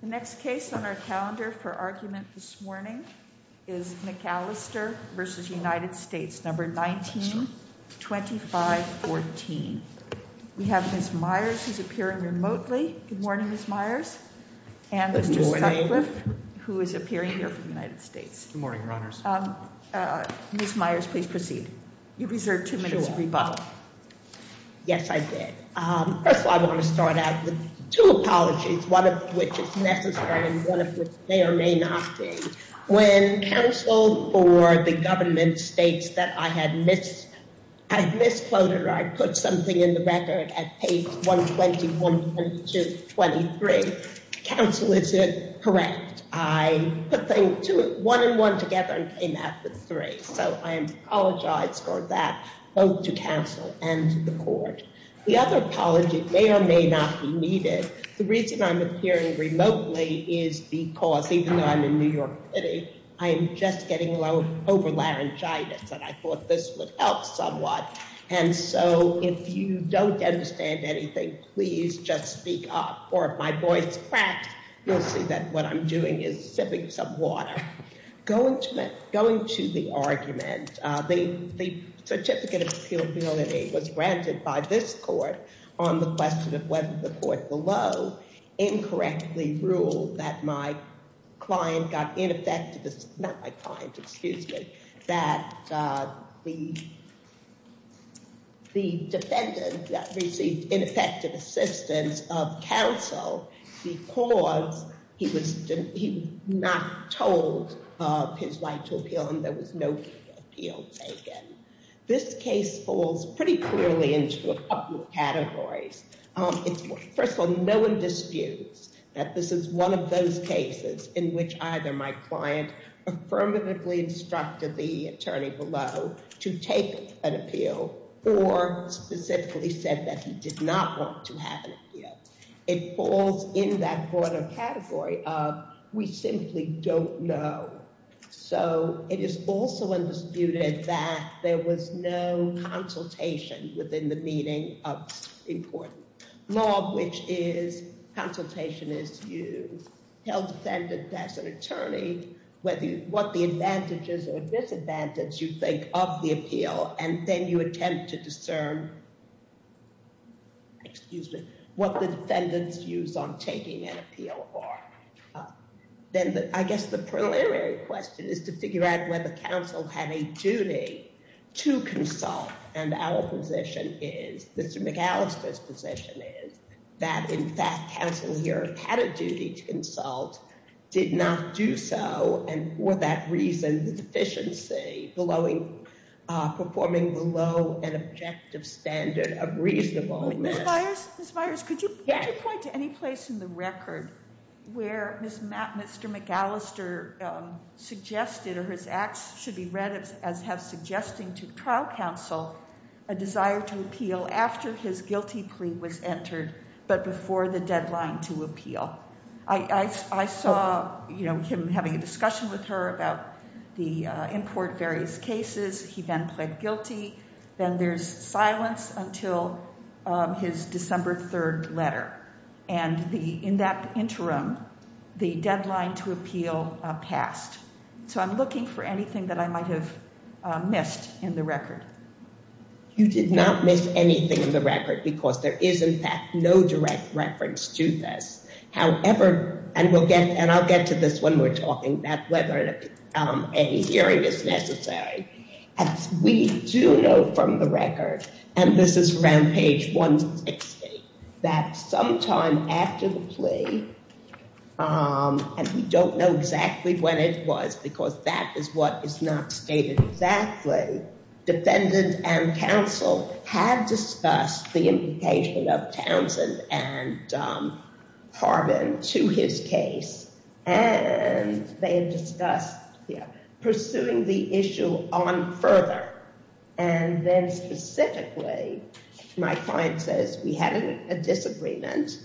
The next case on our calendar for argument this morning is McAllister v. United States, No. 19-2514. We have Ms. Myers, who's appearing remotely. Good morning, Ms. Myers, and Mr. Sutcliffe, who is appearing here from the United States. Good morning, Your Honors. Ms. Myers, please proceed. You reserve two minutes to rebuttal. Yes, I did. First of all, I want to start out with two apologies, one of which is necessary and one of which may or may not be. When counsel for the government states that I had misquoted or I put something in the record at page 120-123, counsel, is it correct? I put one and one together and came out with three, so I apologize for that, both to counsel and to the court. The other apology may or may not be needed. The reason I'm appearing remotely is because, even though I'm in New York City, I am just getting over laryngitis, and I thought this would help somewhat, and so if you don't understand anything, please just speak up, or if my voice cracks, you'll see that I'm doing is sipping some water. Going to the argument, the certificate of appealability was granted by this court on the question of whether the court below incorrectly ruled that my client got ineffective, not my client, excuse me, that the defendant received ineffective assistance of counsel because he was not told of his right to appeal and there was no appeal taken. This case falls pretty clearly into a couple of categories. First of all, no one disputes that this is one of those cases in which either my client affirmatively instructed the it falls in that broader category of we simply don't know, so it is also undisputed that there was no consultation within the meaning of important law, which is consultation is you tell defendant as an attorney whether what the advantages or disadvantages you think of the defendant's views on taking an appeal are. Then I guess the preliminary question is to figure out whether counsel had a duty to consult, and our position is, Mr. McAllister's position is, that in fact counsel here had a duty to consult, did not do so, and for that reason the deficiency belowing, performing below an objective standard of reasonableness. Ms. Myers, could you point to any place in the record where Mr. McAllister suggested or his acts should be read as have suggesting to trial counsel a desire to appeal after his guilty plea was entered, but before the cases, he then pled guilty, then there's silence until his December 3rd letter, and the in that interim the deadline to appeal passed. So I'm looking for anything that I might have missed in the record. You did not miss anything in the record because there is in fact no direct reference to this. However, and we'll get and I'll get to this when we're talking about whether a hearing is necessary, as we do know from the record, and this is around page 160, that sometime after the plea, and we don't know exactly when it was because that is what is not stated exactly, defendant and counsel had discussed the implication of Townsend and and they had discussed pursuing the issue on further, and then specifically my client says we had a disagreement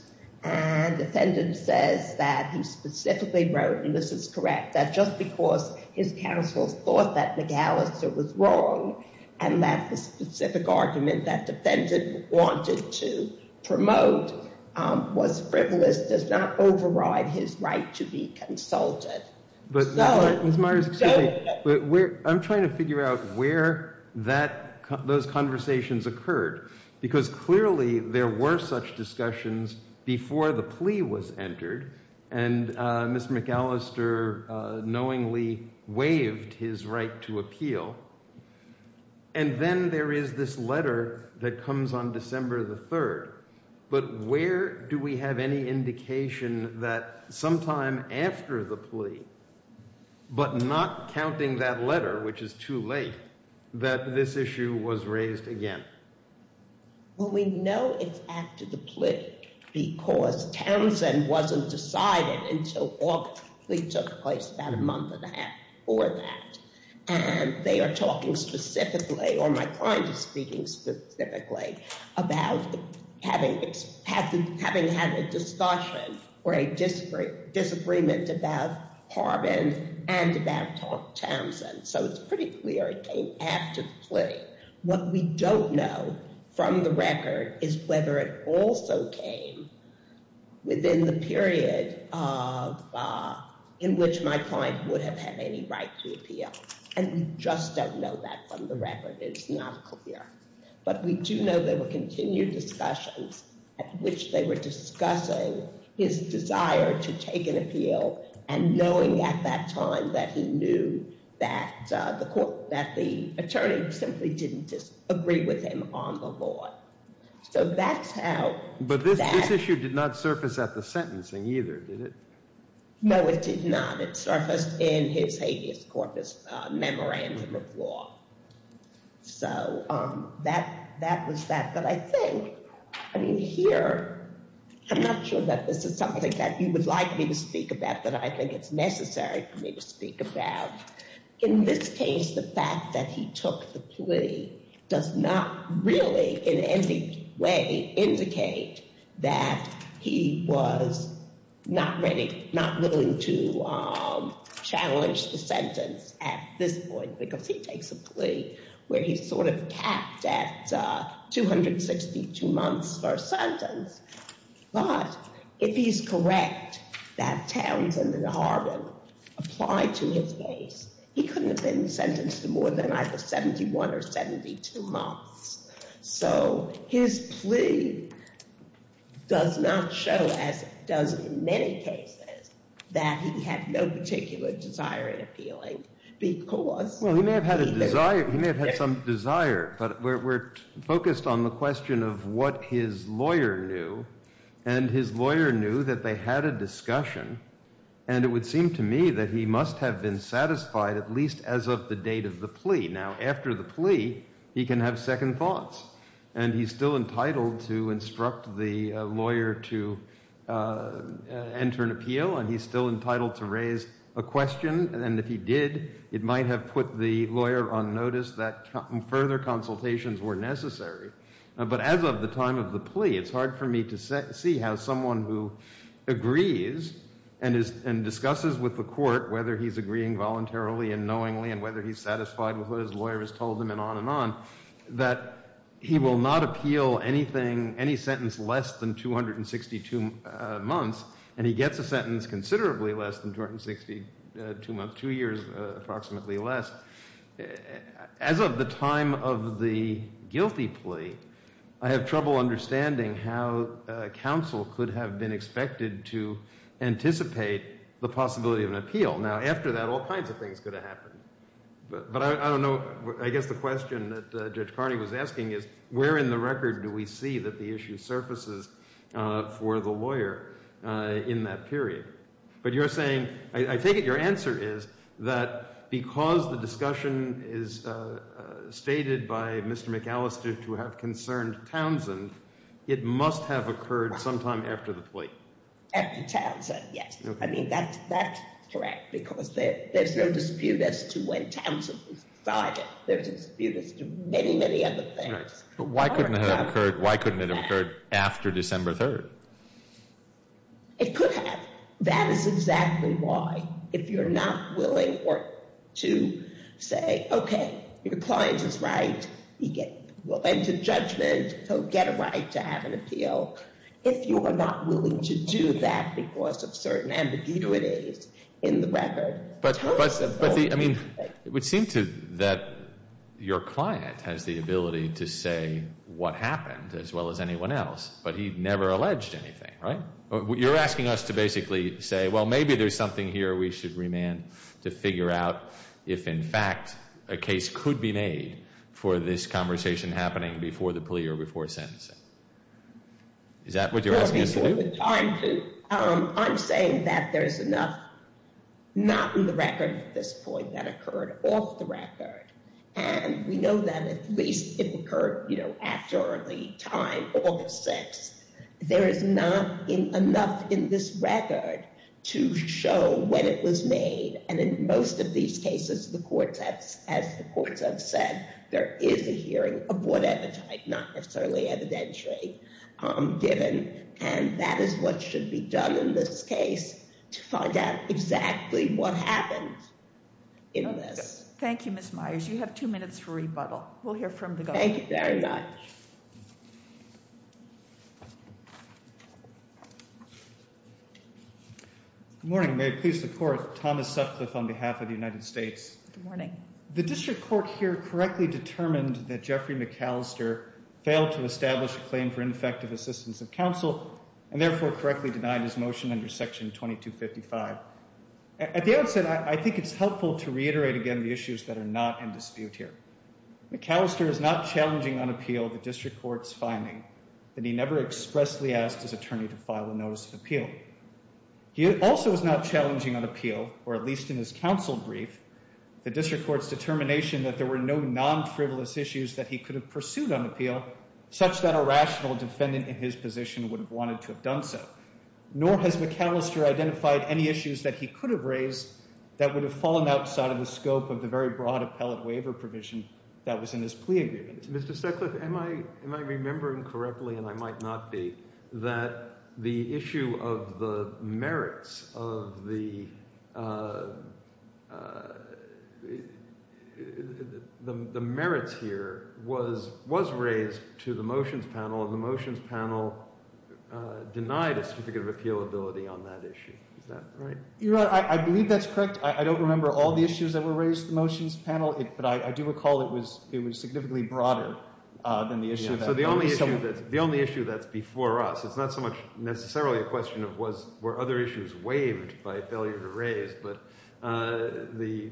and defendant says that he specifically wrote, and this is correct, that just because his counsel thought that McAllister was wrong and that the specific argument that defendant wanted to promote was frivolous does not override his right to be consulted. I'm trying to figure out where that those conversations occurred because clearly there were such discussions before the plea was entered and Ms. McAllister knowingly waived his right to the third, but where do we have any indication that sometime after the plea, but not counting that letter, which is too late, that this issue was raised again? Well, we know it's after the plea because Townsend wasn't decided until August. The plea took place about a month and a half before that, and they are talking specifically, or my client is speaking specifically, about having had a discussion or a disagreement about Harbin and about Townsend, so it's pretty clear it came after the plea. What we don't know from the record is whether it also came within the period of, in which my client would have had any right to appeal, and we just don't know that from the record. It's not clear, but we do know there were continued discussions at which they were discussing his desire to take an appeal and knowing at that time that he knew that the court, that the attorney simply didn't just agree with him on the law, so that's how. But this issue did not surface at the sentencing either, did it? No, it did not. It surfaced in his habeas corpus memorandum of law, so that was that. But I think, I mean, here, I'm not sure that this is something that you would like me to speak about that I think it's necessary for me to speak about. In this case, the fact that he took the plea does not really in any way indicate that he was not ready, not willing to challenge the sentence at this point, because he takes a plea where he's sort of capped at 262 months for a sentence, but if he's correct that Townsend and Harbin applied to his case, he couldn't have been there for 72 months. So his plea does not show, as it does in many cases, that he had no particular desire in appealing, because... Well, he may have had a desire, he may have had some desire, but we're focused on the question of what his lawyer knew, and his lawyer knew that they had a discussion, and it would seem to me that he must have been he can have second thoughts, and he's still entitled to instruct the lawyer to enter an appeal, and he's still entitled to raise a question, and if he did, it might have put the lawyer on notice that further consultations were necessary. But as of the time of the plea, it's hard for me to see how someone who agrees and discusses with the court whether he's agreeing voluntarily and knowingly, and whether he's satisfied with what his lawyer has told him, and on and on, that he will not appeal any sentence less than 262 months, and he gets a sentence considerably less than 262 months, two years approximately less. As of the time of the guilty plea, I have trouble understanding how counsel could have been expected to anticipate the possibility of an appeal. Now, after that, all kinds of things could have happened, but I don't know, I guess the question that Judge Carney was asking is, where in the record do we see that the issue surfaces for the lawyer in that period? But you're saying, I take it your answer is that because the discussion is stated by Mr. McAllister to have concerned Townsend, it must have occurred sometime after the plea. After Townsend, yes, I mean that's correct, because there's no dispute as to when Townsend was decided. There's a dispute as to many, many other things. But why couldn't it have occurred after December 3rd? It could have. That is exactly why, if you're not willing to say, okay, your client is right, he will enter judgment, he'll get a right to have an appeal. If you are not willing to do that because of certain ambiguities in the record. But, I mean, it would seem to that your client has the ability to say what happened, as well as anyone else, but he never alleged anything, right? You're asking us to basically say, well, maybe there's something here we should remand to figure out if in fact a case could be made for this conversation happening before the plea or before the sentencing. Is that what you're asking us to do? I'm saying that there's enough not in the record at this point that occurred off the record, and we know that at least it occurred, you know, after early time, August 6th. There is not enough in this record to show when it was made, and in most of these cases, as the courts have said, there is a hearing of whatever type, not necessarily evidentiary given, and that is what should be done in this case to find out exactly what happened in this. Thank you, Ms. Myers. You have two minutes for rebuttal. We'll hear from the government. Thank you very much. Good morning. May it please the court, Thomas Sutcliffe on behalf of the United States. Good morning. The district court here correctly determined that Jeffrey McAllister failed to establish a claim for ineffective assistance of counsel, and therefore correctly denied his motion under Section 2255. At the outset, I think it's helpful to reiterate again the issues that are not in dispute here. McAllister is not challenging on appeal the district court's finding that he never expressly asked his attorney to file a notice of appeal. He also is not challenging on appeal, or at least in his counsel brief, the district court's determination that there were no non-frivolous issues that he could have pursued on appeal, such that a rational defendant in his position would have wanted to have done so. Nor has McAllister identified any issues that he could have raised that would have brought appellate waiver provision that was in his plea agreement. Mr. Sutcliffe, am I remembering correctly, and I might not be, that the issue of the merits of the merits here was raised to the motions panel, and the motions panel denied a significant appealability on that issue. Is that right? Your Honor, I believe that's correct. I don't remember all the issues that were raised in the motions panel, but I do recall that it was significantly broader than the issue that... So the only issue that's before us, it's not so much necessarily a question of were other issues waived by failure to raise, but the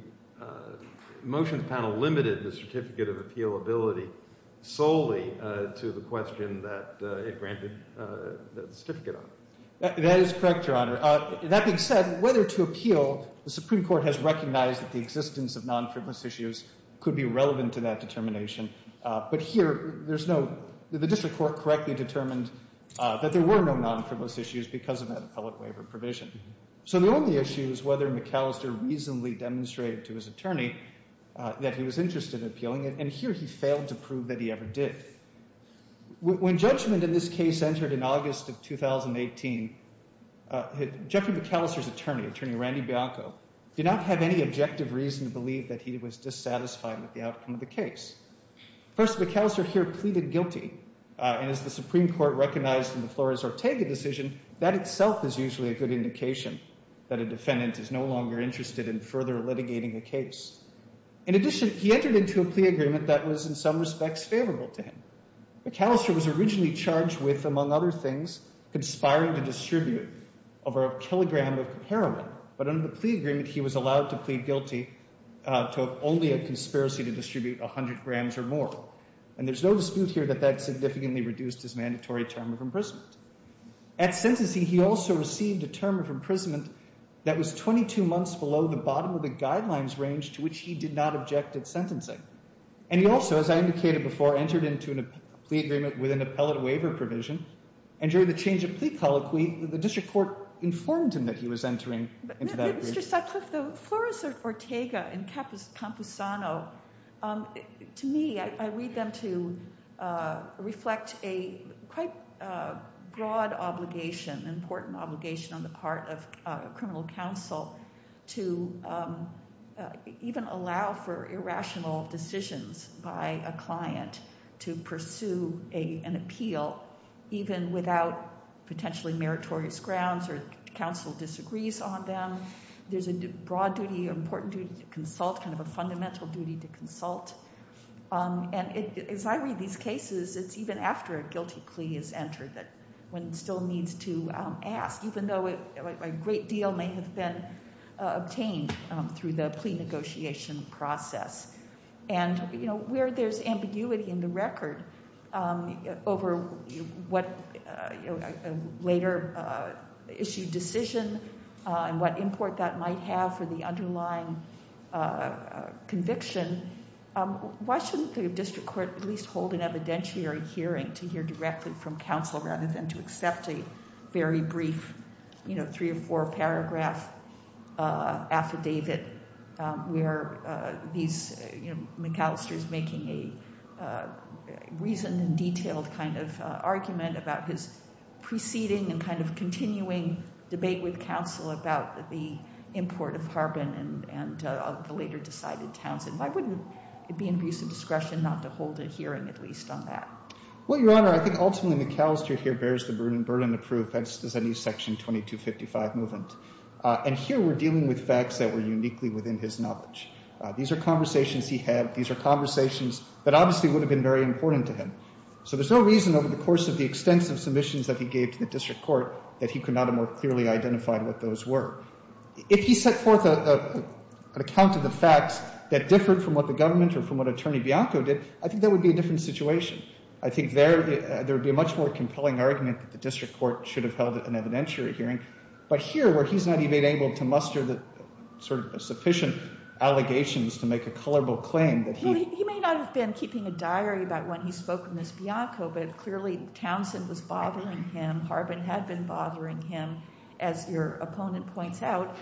motions panel limited the certificate of appealability solely to the question that it granted the certificate on. That is correct, Your Honor. That being said, whether to appeal, the Supreme Court has recognized that the existence of non-frivolous issues could be relevant to that determination. But here, the district court correctly determined that there were no non-frivolous issues because of that appellate waiver provision. So the only issue is whether McAllister reasonably demonstrated to his attorney that he was interested in appealing it, and here he failed to prove that he ever did. When judgment in this case entered in August of 2018, Jeffrey McAllister's attorney, attorney Randy Bianco, did not have any objective reason to believe that he was dissatisfied with the outcome of the case. First, McAllister here pleaded guilty, and as the Supreme Court recognized in the Flores-Ortega decision, that itself is usually a good indication that a defendant is no longer interested in further litigating the case. In addition, he entered into a plea agreement that was in some respects favorable to him. McAllister was originally charged with, among other things, conspiring to distribute over a kilogram of heroin, but under the plea agreement, he was allowed to plead guilty to have only a conspiracy to distribute 100 grams or more, and there's no dispute here that that significantly reduced his mandatory term of imprisonment. At sentencing, he also received a term of imprisonment that was 22 months below the bottom of the guidelines range to which he did not object at sentencing, and he also, as I indicated before, entered into a plea agreement with an appellate waiver provision, and during the change of plea colloquy, the district court informed him that he was entering into that. Mr. Sutcliffe, the Flores-Ortega and Camposano, to me, I read them to reflect a quite broad obligation, important obligation on the part of a client to pursue an appeal even without potentially meritorious grounds or counsel disagrees on them. There's a broad duty, important duty to consult, kind of a fundamental duty to consult, and as I read these cases, it's even after a guilty plea is entered that one still needs to ask, even though a great deal may have been obtained through the plea negotiation process. And where there's ambiguity in the record over what later issued decision and what import that might have for the underlying conviction, why shouldn't the district court at least hold an evidentiary hearing to hear directly from counsel rather than to accept a very brief three or four minutes? McAllister's making a reasoned and detailed kind of argument about his preceding and kind of continuing debate with counsel about the import of Harbin and the later decided Townsend. Why wouldn't it be an abuse of discretion not to hold a hearing at least on that? Well, Your Honor, I think ultimately McAllister here bears the burden of proof as does any section 2255 movement, and here we're dealing with facts that were uniquely within his knowledge. These are conversations he had. These are conversations that obviously would have been very important to him. So there's no reason over the course of the extensive submissions that he gave to the district court that he could not have more clearly identified what those were. If he set forth an account of the facts that differed from what the government or from what Attorney Bianco did, I think that would be a different situation. I think there would be a much more compelling argument that the district court should have held an evidentiary hearing, but here where he's not even able to muster the sufficient allegations to make a culpable claim that he... He may not have been keeping a diary about when he spoke with Ms. Bianco, but clearly Townsend was bothering him. Harbin had been bothering him. As your opponent points out,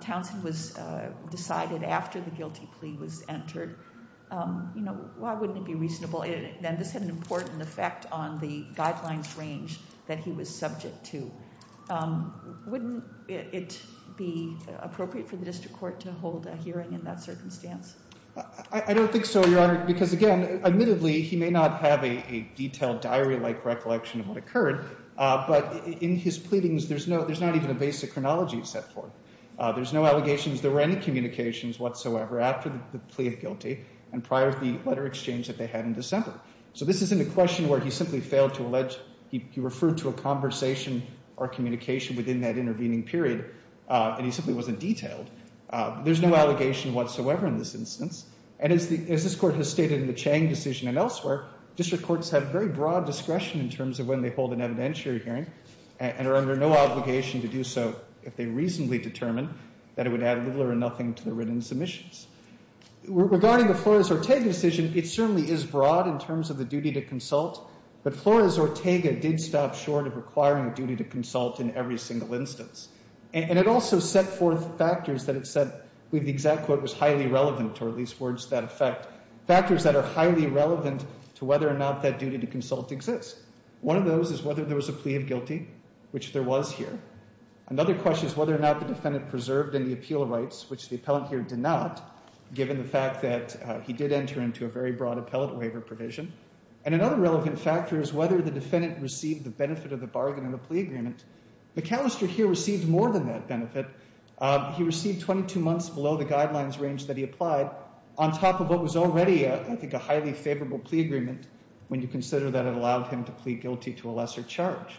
Townsend was decided after the guilty plea was entered. Why wouldn't it be reasonable? And this had an important effect on the guidelines range that he was subject to. Wouldn't it be appropriate for the district court to hold a hearing in that circumstance? I don't think so, Your Honor, because again, admittedly, he may not have a detailed diary-like recollection of what occurred, but in his pleadings, there's not even a basic chronology set forth. There's no allegations. There were any communications whatsoever after the plea of guilty and prior to the letter exchange that they had in December. So this isn't a question where he simply failed to allege... He referred to a conversation or communication within that intervening period, and he simply wasn't detailed. There's no allegation whatsoever in this instance, and as this court has stated in the Chang decision and elsewhere, district courts have very broad discretion in terms of when they hold an evidentiary hearing and are under no obligation to do so if they reasonably determine that it would add little or nothing to the written submissions. Regarding the Flores-Orteg decision, it certainly is broad in terms of the duty to consult but Flores-Ortega did stop short of requiring a duty to consult in every single instance, and it also set forth factors that it said with the exact quote was highly relevant, or at least words that affect factors that are highly relevant to whether or not that duty to consult exists. One of those is whether there was a plea of guilty, which there was here. Another question is whether or not the defendant preserved any appeal rights, which the appellant here did not, given the fact that he did enter into a very broad appellate waiver provision, and another relevant factor is whether the defendant received the benefit of the bargain in the plea agreement. McAllister here received more than that benefit. He received 22 months below the guidelines range that he applied on top of what was already, I think, a highly favorable plea agreement when you consider that it allowed him to plead guilty to a lesser charge.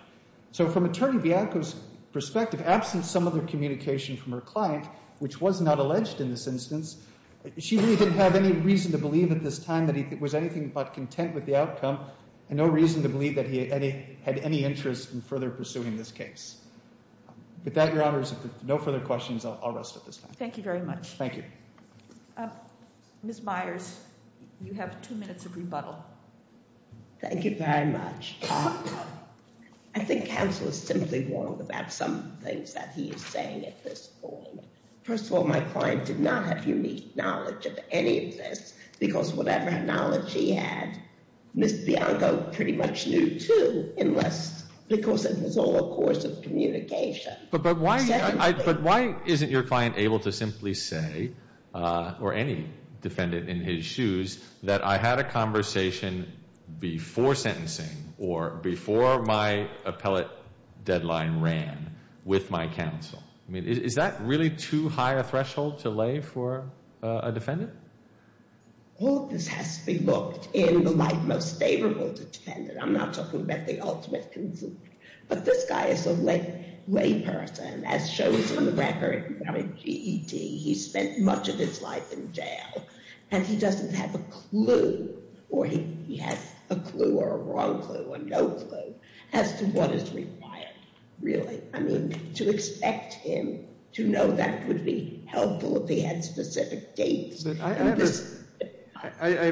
So from Attorney Bianco's perspective, absent some other communication from her client, which was not alleged in this instance, she really didn't have any reason to believe at this time that he was anything but content with the outcome and no reason to believe that he had any interest in further pursuing this case. With that, Your Honors, no further questions. I'll rest at this time. Thank you very much. Thank you. Ms. Myers, you have two minutes of rebuttal. Thank you very much. I think counsel is simply wrong about some things that he is saying at this point. First of all, my client did not have unique knowledge of any of this because whatever knowledge he had, Ms. Bianco pretty much knew too unless, because it was all a course of communication. But why isn't your client able to simply say, or any defendant in his shoes, that I had a conversation before sentencing or before my client ran with my counsel? I mean, is that really too high a threshold to lay for a defendant? All this has to be looked in the light most favorable to the defendant. I'm not talking about the ultimate but this guy is a lay person. As shown on the record, he spent much of his life in jail and he doesn't have a clue or he has a clue or a wrong clue or no clue as to what is required really. I mean, to expect him to know that would be helpful if he had specific dates. I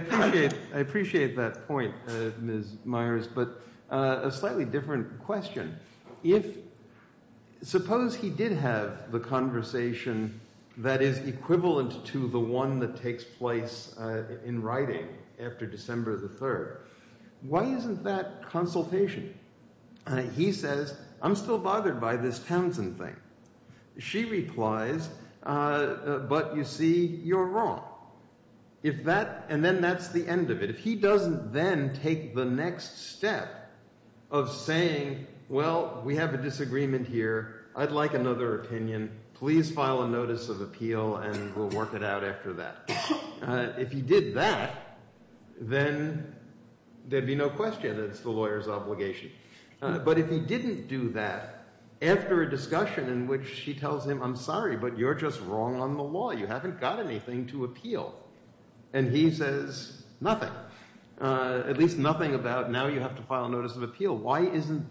appreciate that point, Ms. Myers, but a slightly different question. If, suppose he did have the conversation that is equivalent to the one that takes place in writing after December the 3rd, why isn't that consultation? He says, I'm still bothered by this Townsend thing. She replies, but you see, you're wrong. If that, and then that's the end of it. If he doesn't then take the next step of saying, well, we have a disagreement here, I'd like another opinion, please file a notice of appeal and we'll work it out after that. If he did that, then there'd be no question it's the lawyer's obligation. But if he didn't do that after a discussion in which she tells him, I'm sorry, but you're just wrong on the law. You haven't got anything to appeal. And he says nothing, at least nothing about now you have to file a notice of consultation.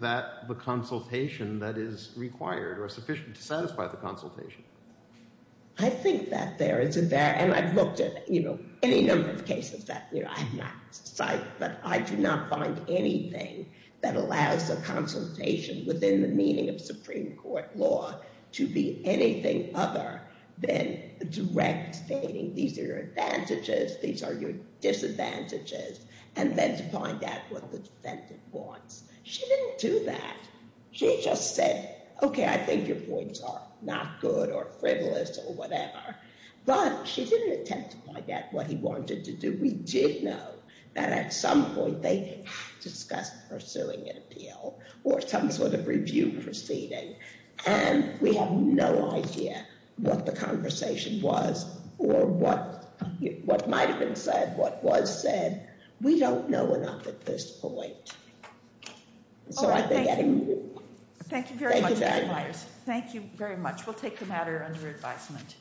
I think that there is a, and I've looked at, you know, any number of cases that I have not cited, but I do not find anything that allows a consultation within the meaning of Supreme Court law to be anything other than direct stating these are your advantages, these are your disadvantages, and then to find out what the defendant wants. She didn't do that. She just said, okay, I think your points are not good or frivolous or whatever. But she didn't attempt to find out what he wanted to do. We did know that at some point they discussed pursuing an appeal or some sort of review proceeding. And we have no idea what the conversation was or what might've been said, what was said. We don't know enough at this point. All right. Thank you. Thank you very much. Thank you very much. We'll take the matter under advisement.